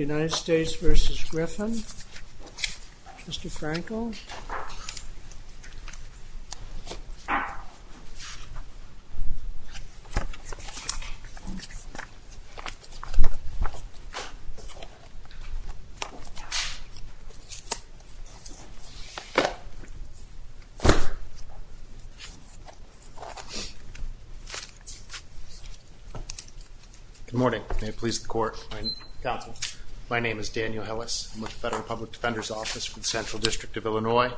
United States vs. Griffin? Mr. Frankel? Good morning. May it please the court, counsel, my name is Daniel Hillis. I'm with the Federal Public Defender's Office for the Central District of Illinois.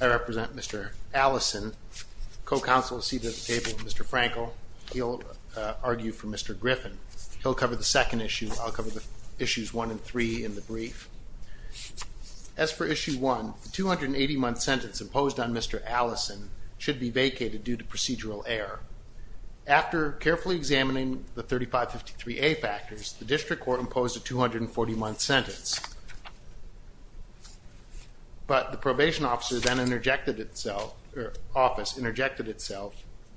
I represent Mr. Allison, co-counsel seated at the table with Mr. Frankel. He'll argue for Mr. Griffin. He'll cover the second issue. I'll cover the issues one and three in the brief. As for issue one, the 280-month sentence imposed on Mr. Allison should be vacated due to procedural error. After carefully examining the 3553A factors, the district court imposed a 240-month sentence. But the probation officer then interjected itself,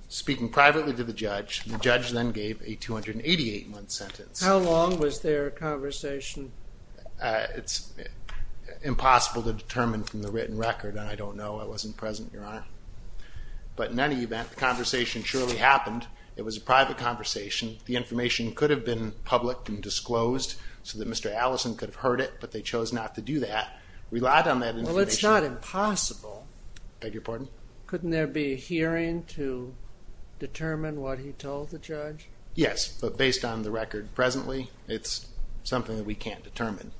speaking privately to the judge. The judge then gave a 288-month sentence. How long was their conversation? It's impossible to determine from the written record and I don't know. I wasn't present, Your Honor. But in any event, the conversation surely happened. It was a private conversation. The information could have been public and disclosed so that Mr. Allison could have heard it, but they chose not to do that. We relied on that information. Well, it's not impossible. Beg your pardon? Couldn't there be a hearing to determine what he told the judge? Yes, but based on the record presently, it's something that we can't determine.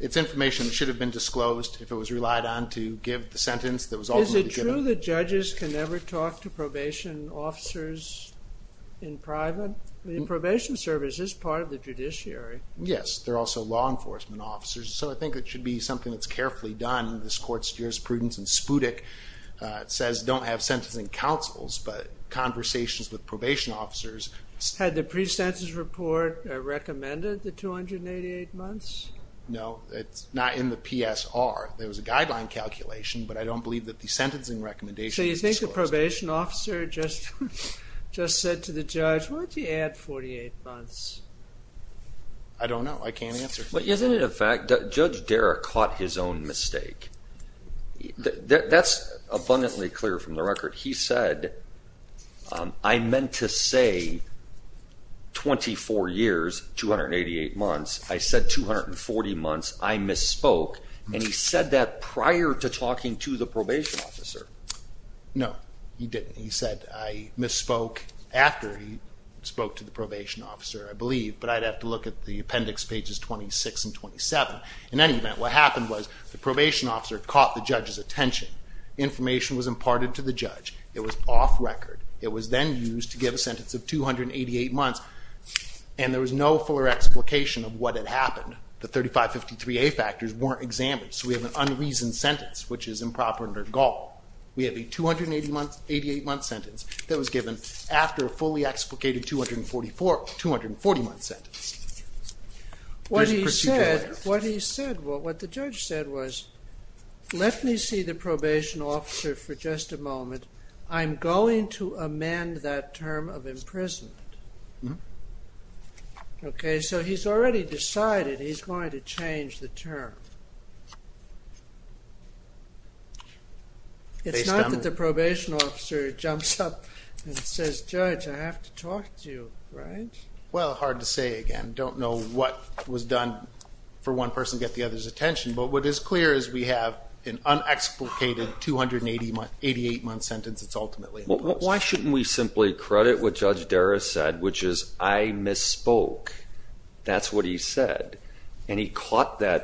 It's information that should have been disclosed if it was relied on to give the sentence that was ultimately given. Is it true that judges can never talk to probation officers in private? The probation service is part of the judiciary. Yes, they're also law enforcement officers, so I think it should be something that's carefully done. This court steers prudence and Spudik says don't have sentencing counsels, but conversations with I don't know. I can't answer. But isn't it a fact that Judge Darragh caught his own mistake? That's abundantly clear from the record. He said, I meant to say 24 years, 288 months. I said 240 months. I misspoke and he said that prior to talking to the probation officer. No, he didn't. He said I misspoke after he spoke to the probation officer, I believe, but I'd have to look at the appendix pages 26 and 27. In any event, what happened was the probation officer caught the judge's attention. Information was imparted to the judge. It was off record. It was then used to give a sentence of 288 months and there was no fuller explication of what had happened. The 3553A factors weren't examined, so we have an unreasoned sentence, which is improper under gall. We have a 288 month sentence that was given after a fully explicated 244, 240 month sentence. What he said, what the judge said was, let me see the probation officer for just a moment. I'm going to amend that term of imprisonment. Okay, so he's already decided he's going to change the term. It's not that the probation officer jumps up and says, judge, I have to talk to you, right? Well, hard to say again. Don't know what was done for one person to get the other's attention, but what is clear is we have an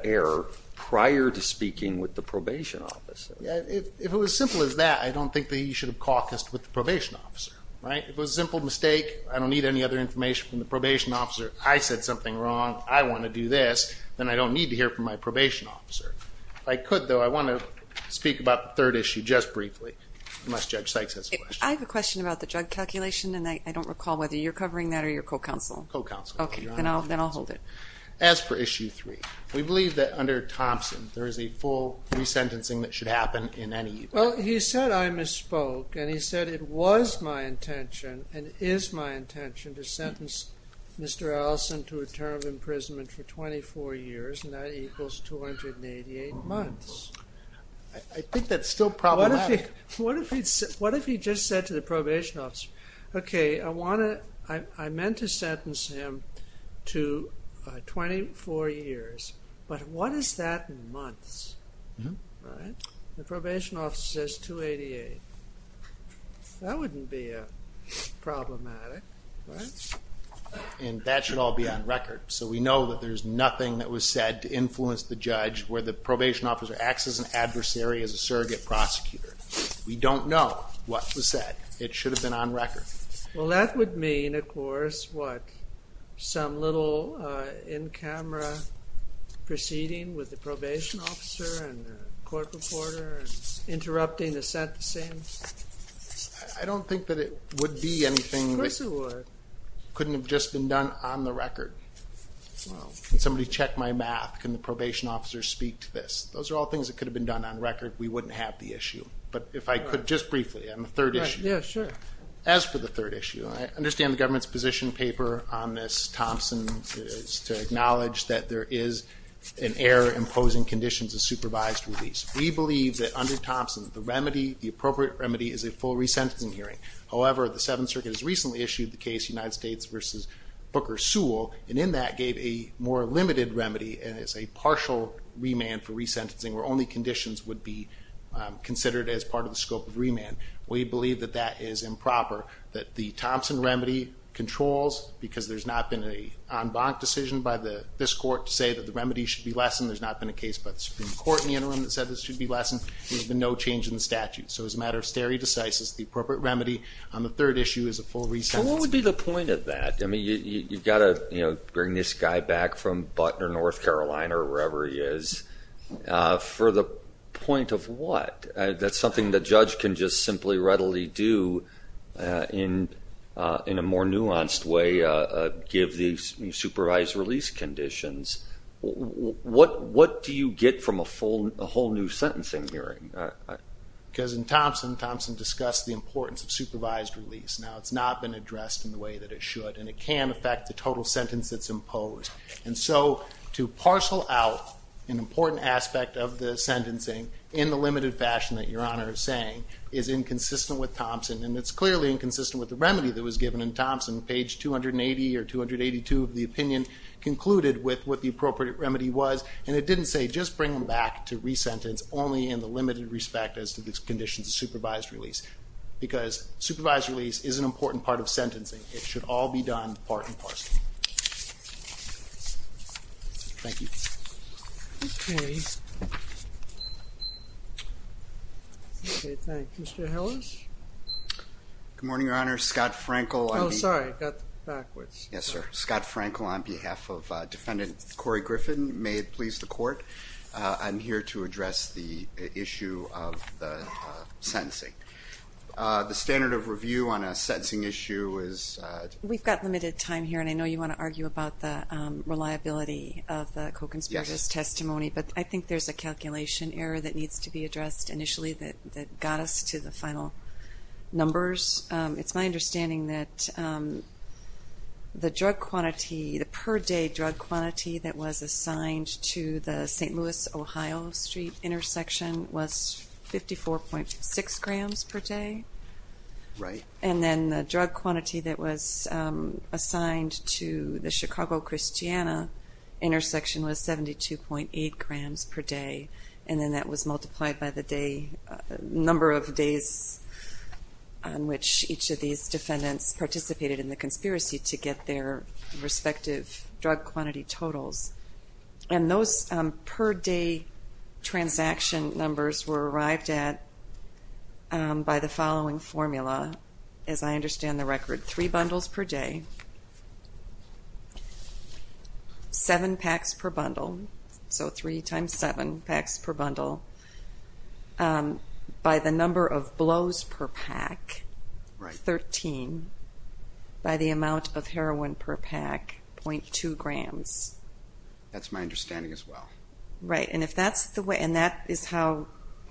error prior to speaking with the probation officer. If it was as simple as that, I don't think that he should have caucused with the probation officer, right? It was a simple mistake. I don't need any other information from the probation officer. I said something wrong. I want to do this. Then I don't need to hear from my probation officer. If I could, though, I want to speak about the third issue just briefly, unless Judge Sykes has a question. I have a question about the drug calculation, and I don't recall whether you're covering that or your co-counsel. Co-counsel. Okay, then I'll hold it. As for issue 3, we believe that under Thompson there is a full resentencing that should happen in any event. Well, he said I misspoke, and he said it was my intention and is my intention to sentence Mr. Allison to a term of imprisonment for 24 years, and that equals 288 months. I think that's still said to the probation officer. Okay, I want to, I meant to sentence him to 24 years, but what is that in months? The probation officer says 288. That wouldn't be problematic, right? And that should all be on record, so we know that there's nothing that was said to influence the judge where the probation officer acts as an adversary as a Well, that would mean, of course, what? Some little in-camera proceeding with the probation officer and the court reporter and interrupting the sentencing? I don't think that it would be anything that couldn't have just been done on the record. Can somebody check my math? Can the probation officer speak to this? Those are all things that could have been done on record. We wouldn't have the issue, but if I could just briefly on the third issue. Yeah, sure. As for the third issue, I understand the government's position paper on this, Thompson, is to acknowledge that there is an error imposing conditions of supervised release. We believe that under Thompson, the remedy, the appropriate remedy is a full resentencing hearing. However, the Seventh Circuit has recently issued the case United States v. Booker Sewell, and in that gave a more limited remedy, and it's a partial remand for resentencing, where only conditions would be considered as part of the scope of remand. We believe that that is improper, that the Thompson remedy controls, because there's not been an en banc decision by this court to say that the remedy should be lessened. There's not been a case by the Supreme Court in the interim that said this should be lessened. There's been no change in the statute, so it's a matter of stare decisis. The appropriate remedy on the third issue is a full resentencing. So what would be the point of that? I mean, you've got to, you know, bring this guy back from Butner, North Carolina, or wherever he is, for the point of what? That's something the judge can just simply readily do in a more nuanced way, give these supervised release conditions. What do you get from a full, a whole new sentencing hearing? Because in Thompson, Thompson discussed the importance of supervised release. Now, it's not been addressed in the way that it should, and it can affect the total sentence that's imposed. And so, to parcel out an important aspect of the sentencing in the limited fashion that Your Honor is saying is inconsistent with Thompson, and it's clearly inconsistent with the remedy that was given in Thompson. Page 280 or 282 of the opinion concluded with what the appropriate remedy was, and it didn't say just bring him back to resentence, it's only in the limited respect as to the conditions of supervised release. Because supervised release is an important part of sentencing. It should all be done part and parcel. Thank you. Okay. Okay, thank you. Mr. Hellers? Good morning, Your Honor. Scott Frankel. Oh, sorry, I got backwards. Yes, sir. Scott Frankel on behalf of Defendant Corey Griffin. May it please the Court, I'm here to address the issue of the sentencing. The standard of review on a sentencing issue is... We've got limited time here, and I know you want to argue about the reliability of the co-conspirator's testimony, but I think there's a calculation error that needs to be addressed initially that got us to the final numbers. It's my understanding that the drug quantity, the per day drug quantity that was assigned to the St. Louis-Ohio Street intersection was 54.6 grams per day. Right. And then the drug quantity that was assigned to the Chicago-Christiana intersection was 72.8 grams per day, and then that was multiplied by the number of days on which each of these defendants participated in the conspiracy to get their respective drug quantity totals. And those per day transaction numbers were arrived at by the following formula, as I understand the record. Three bundles per day, seven packs per bundle, so three times seven packs per bundle, by the number of blows per pack, 13, by the amount of heroin per pack, 0.2 grams. That's my understanding as well. Right, and that is how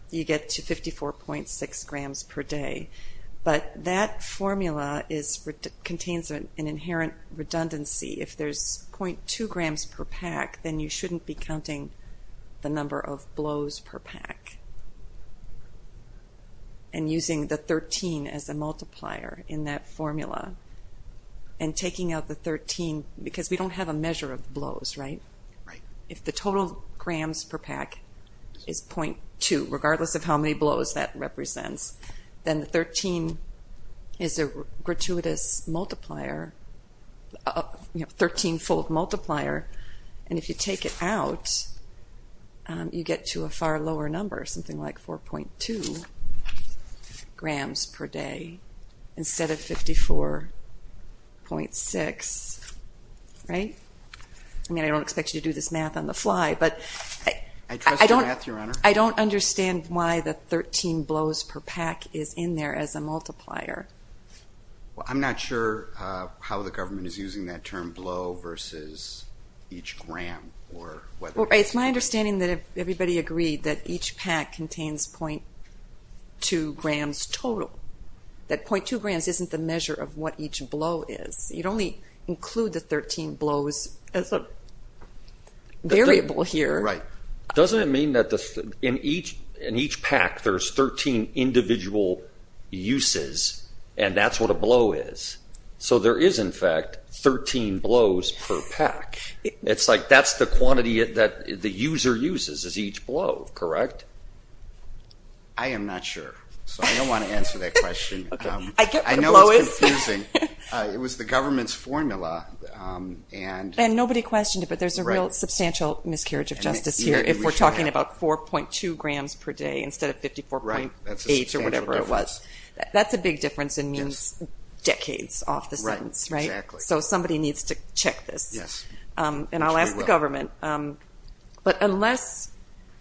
you get to 54.6 grams per day, but that formula contains an inherent redundancy. If there's 0.2 grams per pack, then you shouldn't be counting the number of blows per pack, and using the 13 as a multiplier in that formula, and taking out the 13, because we don't have a measure of blows, right? Right. If the total grams per pack is 0.2, regardless of how many blows that represents, then the 13 is a gratuitous multiplier, a 13-fold multiplier, and if you take it out, you get to a far lower number, something like 4.2 grams per day, instead of 54.6, right? I mean, I don't expect you to do this math on the fly, but I don't understand why the 13 blows per pack is in there as a multiplier. Well, I'm not sure how the government is using that term, blow versus each gram. It's my understanding that if everybody agreed that each pack contains 0.2 grams total, that 0.2 grams isn't the measure of what each blow is. You'd only include the 13 blows as a variable here. Doesn't it mean that in each pack, there's 13 individual uses, and that's what a blow is? So there is, in fact, 13 blows per pack. It's like that's the quantity that the user uses is each blow, correct? I am not sure, so I don't want to answer that question. I get what a blow is. It was the government's formula. And nobody questioned it, but there's a real substantial miscarriage of justice here if we're talking about 4.2 grams per day instead of 54.8 or whatever it was. That's a big difference and means decades off the sentence, right? So somebody needs to check this, and I'll ask the government. But unless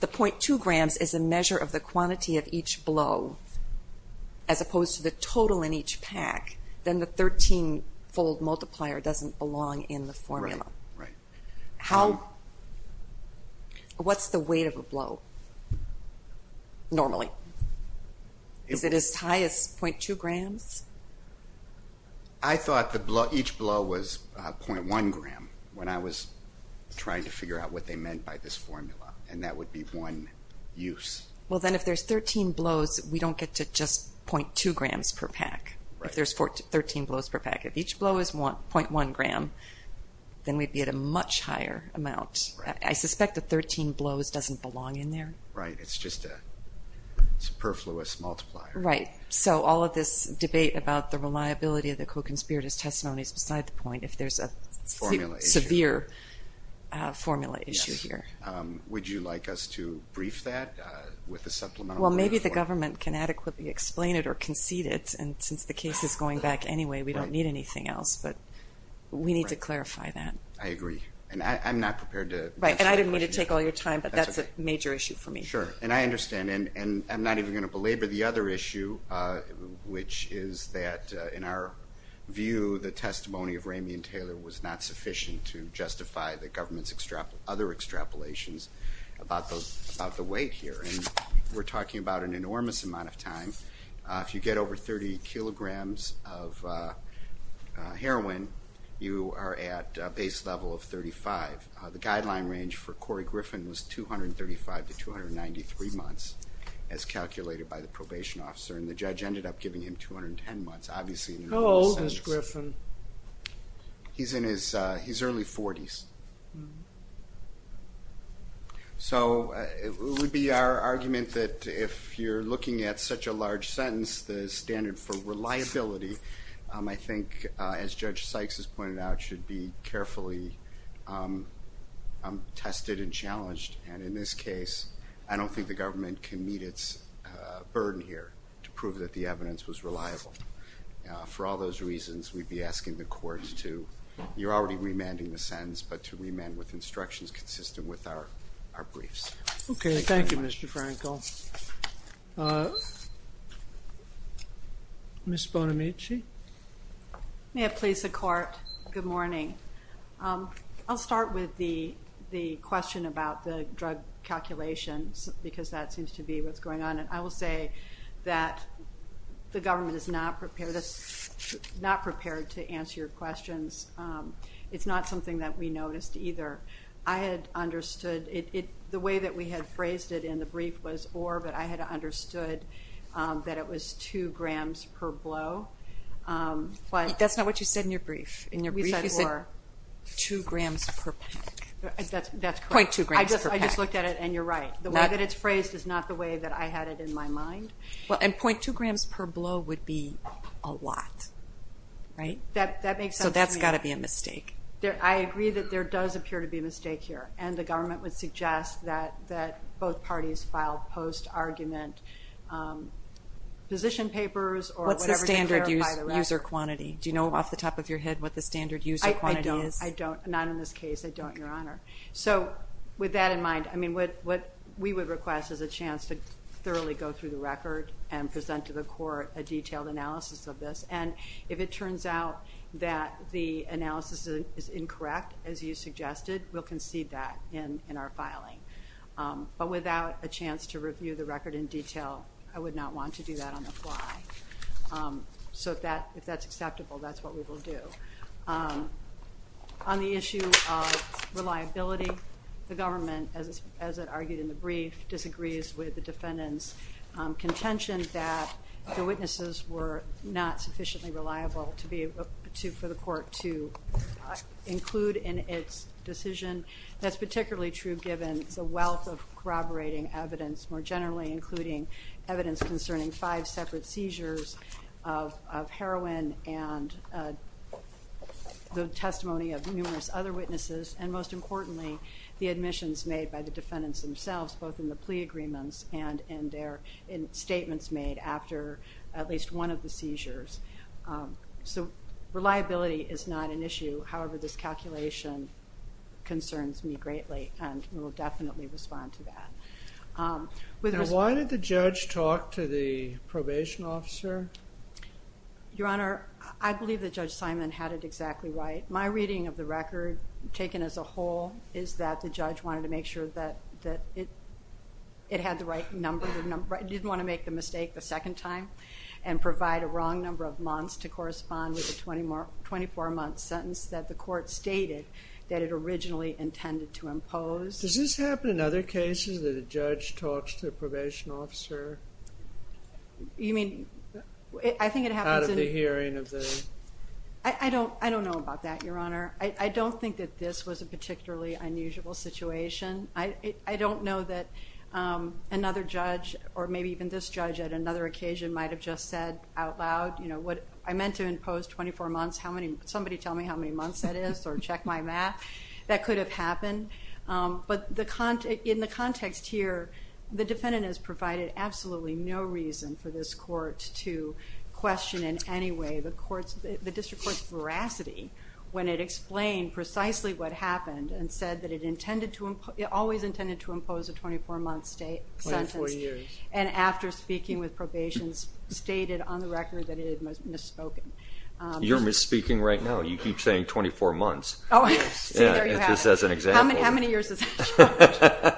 the 0.2 grams is a measure of the quantity of each blow as opposed to the total in each pack, then the 13-fold multiplier doesn't belong in the formula. Right, right. What's the weight of a blow normally? Is it as high as 0.2 grams? I thought each blow was 0.1 gram when I was trying to figure out what they meant by this formula, and that would be one use. Well, then if there's 13 blows, we don't get to just 0.2 grams per pack if there's 13 blows per pack. If each blow is 0.1 gram, then we'd be at a much higher amount. I suspect the 13 blows doesn't belong in there. Right, it's just a superfluous multiplier. Right, so all of this debate about the reliability of the co-conspirator's testimony is beside the point if there's a severe formula issue here. Would you like us to brief that with a supplemental? Well, maybe the government can adequately explain it or concede it, and since the case is going back anyway, we don't need anything else, but we need to clarify that. I agree, and I'm not prepared to answer that question. Right, and I didn't mean to take all your time, but that's a major issue for me. Sure, and I understand, and I'm not even going to belabor the other issue, which is that in our view, the testimony of Ramey and Taylor was not sufficient to justify the government's other extrapolations about the weight here, and we're talking about an enormous amount of time. If you get over 30 kilograms of heroin, you are at a base level of 35. The guideline range for Corey Griffin was 235 to 293 months, as calculated by the probation officer, and the judge ended up giving him 210 months, obviously. How old is Griffin? He's in his early 40s, so it would be our argument that if you're looking at such a large sentence, the standard for reliability, I think, as Judge Sykes has pointed out, should be carefully tested and challenged, and in this case, I don't think the government can meet its burden here to prove that the evidence was reliable. For all those reasons, we'd be asking the courts to, you're already remanding the sentence, but to remand with instructions consistent with our briefs. Okay, thank you, Mr. Frankel. Ms. Bonamici? May it please the court, good morning. I'll start with the question about the drug calculations because that seems to be what's going on, and I will say that the government is not prepared to answer your questions. It's not something that we noticed either. I had understood, the way that we had phrased it in the brief was or, but I had understood that it was two grams per blow. That's not what you said in your brief. In your brief you said two grams per pack. That's correct. .2 grams per pack. I just looked at it, and you're right. The way that it's phrased is not the way that I had it in my mind. Well, and .2 grams per blow would be a lot, right? That makes sense to me. So that's got to be a mistake. I agree that there does appear to be a mistake here, and the government would suggest that both parties file post-argument position papers or whatever to clarify the record. What's the standard user quantity? Do you know off the top of your head what the standard user quantity is? I don't. Not in this case. I don't, Your Honor. So with that in mind, I mean, what we would request is a chance to thoroughly go through the record and present to the court a detailed analysis of this. And if it turns out that the analysis is incorrect, as you suggested, we'll concede that in our filing. But without a chance to review the record in detail, I would not want to do that on the fly. So if that's acceptable, that's what we will do. On the issue of reliability, the government, as it argued in the brief, disagrees with the defendant's contention that the witnesses were not sufficiently reliable for the court to include in its decision. That's particularly true given the wealth of corroborating evidence, more generally, including evidence concerning five separate seizures of heroin and the testimony of numerous other witnesses, and most importantly, the admissions made by the defendants themselves, both in the plea agreements and in statements made after at least one of the seizures. So reliability is not an issue. However, this calculation concerns me greatly and we will definitely respond to that. Now, why did the judge talk to the probation officer? Your Honor, I believe that Judge Simon had it exactly right. My reading of the record, taken as a whole, is that the judge wanted to make sure that it had the right number. He didn't want to make the mistake the second time and provide a wrong number of months to correspond with the 24-month sentence that the court stated that it originally intended to impose. Does this happen in other cases that a judge talks to a probation officer? You mean, I think it happens in... Out of the hearing of the... I don't know about that, Your Honor. I don't think that this was a particularly unusual situation. I don't know that another judge or maybe even this judge at another occasion might have just said out loud, you know, I meant to impose 24 months. Somebody tell me how many months that is or check my math. That could have happened. But in the context here, the defendant has provided absolutely no reason for this court to question in any way. The district court's veracity when it explained precisely what happened and said that it always intended to impose a 24-month sentence and after speaking with probation stated on the record that it had misspoken. You're misspeaking right now. You keep saying 24 months. Oh, I see. There you have it. Just as an example. How many years is it?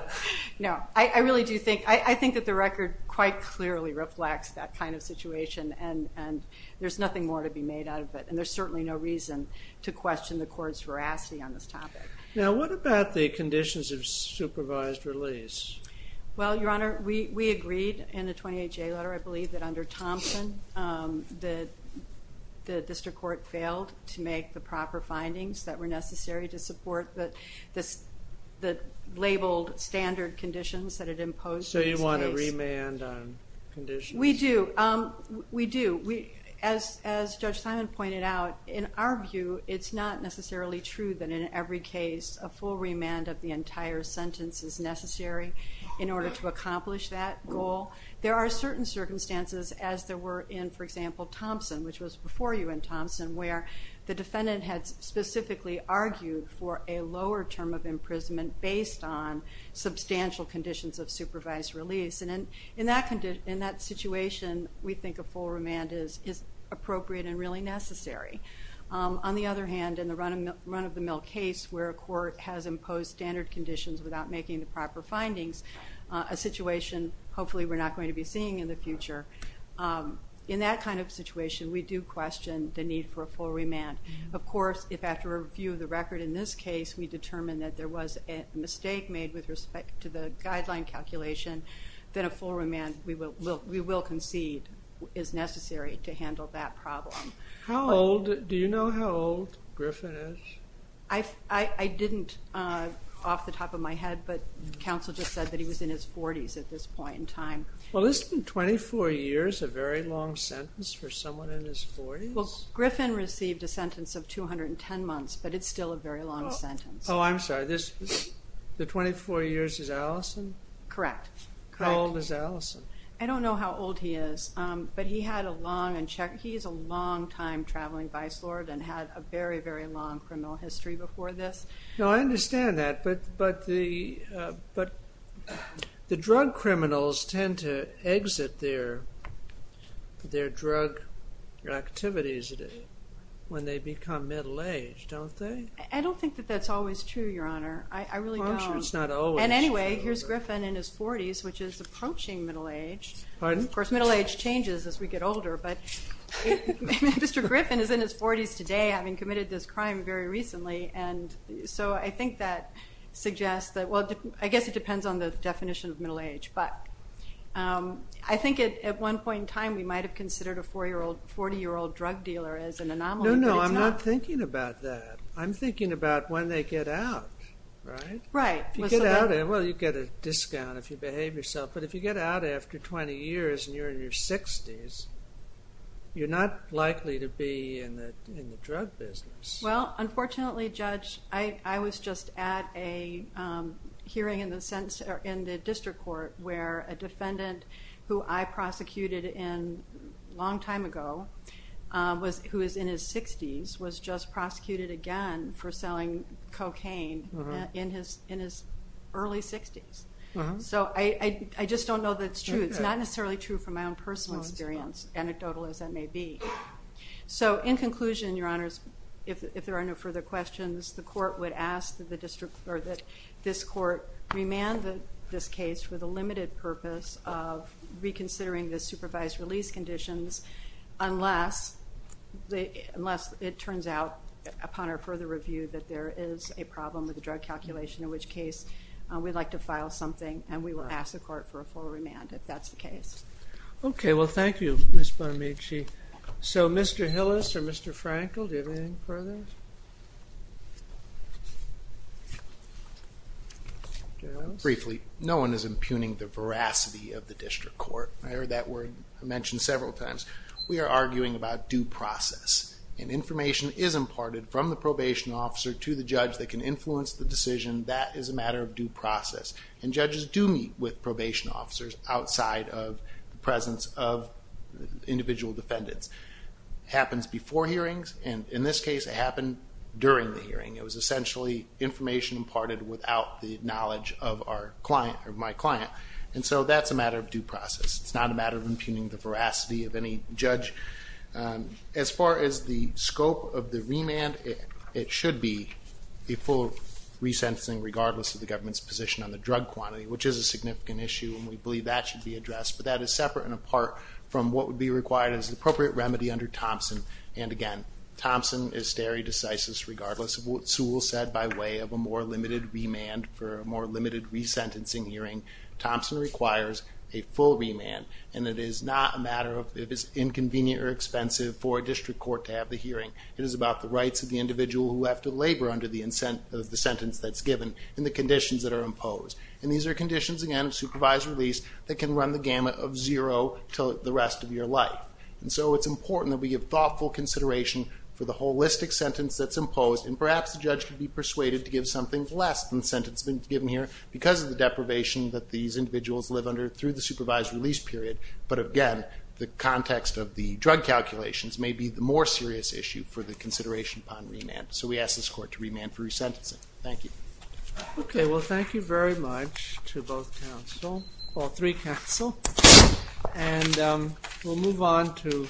No, I really do think that the record quite clearly reflects that kind of situation, and there's nothing more to be made out of it, and there's certainly no reason to question the court's veracity on this topic. Now what about the conditions of supervised release? Well, Your Honor, we agreed in the 28-J letter, I believe, that under Thompson the district court failed to make the proper findings that were necessary to support the labeled standard conditions that it imposed. So you want to remand on conditions? We do. We do. As Judge Simon pointed out, in our view, it's not necessarily true that in every case a full remand of the entire sentence is necessary in order to accomplish that goal. There are certain circumstances as there were in, for example, Thompson, which was before you in Thompson, where the defendant had specifically argued for a lower term of imprisonment based on substantial conditions of supervised release. And in that situation, we think a full remand is appropriate and really necessary. On the other hand, in the run-of-the-mill case, where a court has imposed standard conditions without making the proper findings, a situation hopefully we're not going to be seeing in the future, in that kind of situation we do question the need for a full remand. Of course, if after review of the record in this case, we determine that there was a mistake made with respect to the guideline calculation, then a full remand, we will concede, is necessary to handle that problem. Do you know how old Griffin is? I didn't off the top of my head, but counsel just said that he was in his 40s at this point in time. Well, this has been 24 years, a very long sentence for someone in his 40s? Well, Griffin received a sentence of 210 months, but it's still a very long sentence. Oh, I'm sorry. The 24 years is Allison? Correct. How old is Allison? I don't know how old he is, but he had a long, and he's a longtime traveling vice lord and had a very, very long criminal history before this. No, I understand that, but the drug criminals tend to exit their drug activities when they become middle-aged, don't they? I don't think that that's always true, Your Honor. I really don't. I'm sure it's not always true. And anyway, here's Griffin in his 40s, which is approaching middle age. Pardon? Of course, middle age changes as we get older, but Mr. Griffin is in his 40s today having committed this crime very recently, and so I think that suggests that, well, I guess it depends on the definition of middle age, but I think at one point in time we might have considered a 40-year-old drug dealer as an anomaly. No, no, I'm not thinking about that. I'm thinking about when they get out, right? Right. Well, you get a discount if you behave yourself, but if you get out after 20 years and you're in your 60s, you're not likely to be in the drug business. Well, unfortunately, Judge, I was just at a hearing in the district court where a defendant who I prosecuted a long time ago, who is in his 60s, was just prosecuted again for selling cocaine in his early 60s. So I just don't know that it's true. It's not necessarily true from my own personal experience, anecdotal as that may be. So in conclusion, Your Honors, if there are no further questions, the court would ask that this court remand this case for the limited purpose of reconsidering the supervised release conditions unless it turns out upon our further review that there is a problem with the drug calculation, in which case we'd like to file something and we will ask the court for a full remand if that's the case. Okay, well, thank you, Ms. Bonamici. So Mr. Hillis or Mr. Frankel, do you have anything further? Your Honors? Briefly, no one is impugning the veracity of the district court. I heard that word mentioned several times. We are arguing about due process, and information is imparted from the probation officer to the judge that can influence the decision. That is a matter of due process, and judges do meet with probation officers outside of the presence of individual defendants. It happens before hearings, and in this case it happened during the hearing. It was essentially information imparted without the knowledge of my client, and so that's a matter of due process. It's not a matter of impugning the veracity of any judge. As far as the scope of the remand, it should be a full resentencing, regardless of the government's position on the drug quantity, which is a significant issue, and we believe that should be addressed. But that is separate and apart from what would be required as an appropriate remedy under Thompson. And again, Thompson is stare decisis regardless of what Sewell said by way of a more limited remand for a more limited resentencing hearing. Thompson requires a full remand, and it is not a matter of if it's inconvenient or expensive for a district court to have the hearing. It is about the rights of the individual who have to labor under the sentence that's given and the conditions that are imposed. And these are conditions, again, of supervised release that can run the gamut of zero to the rest of your life. And so it's important that we give thoughtful consideration for the holistic sentence that's imposed, and perhaps the judge could be persuaded to give something less than the sentence given here because of the deprivation that these individuals live under through the supervised release period. But again, the context of the drug calculations may be the more serious issue for the consideration upon remand. So we ask this court to remand for resentencing. Thank you. Okay, well, thank you very much to both counsel, or three counsel. And we'll move on to...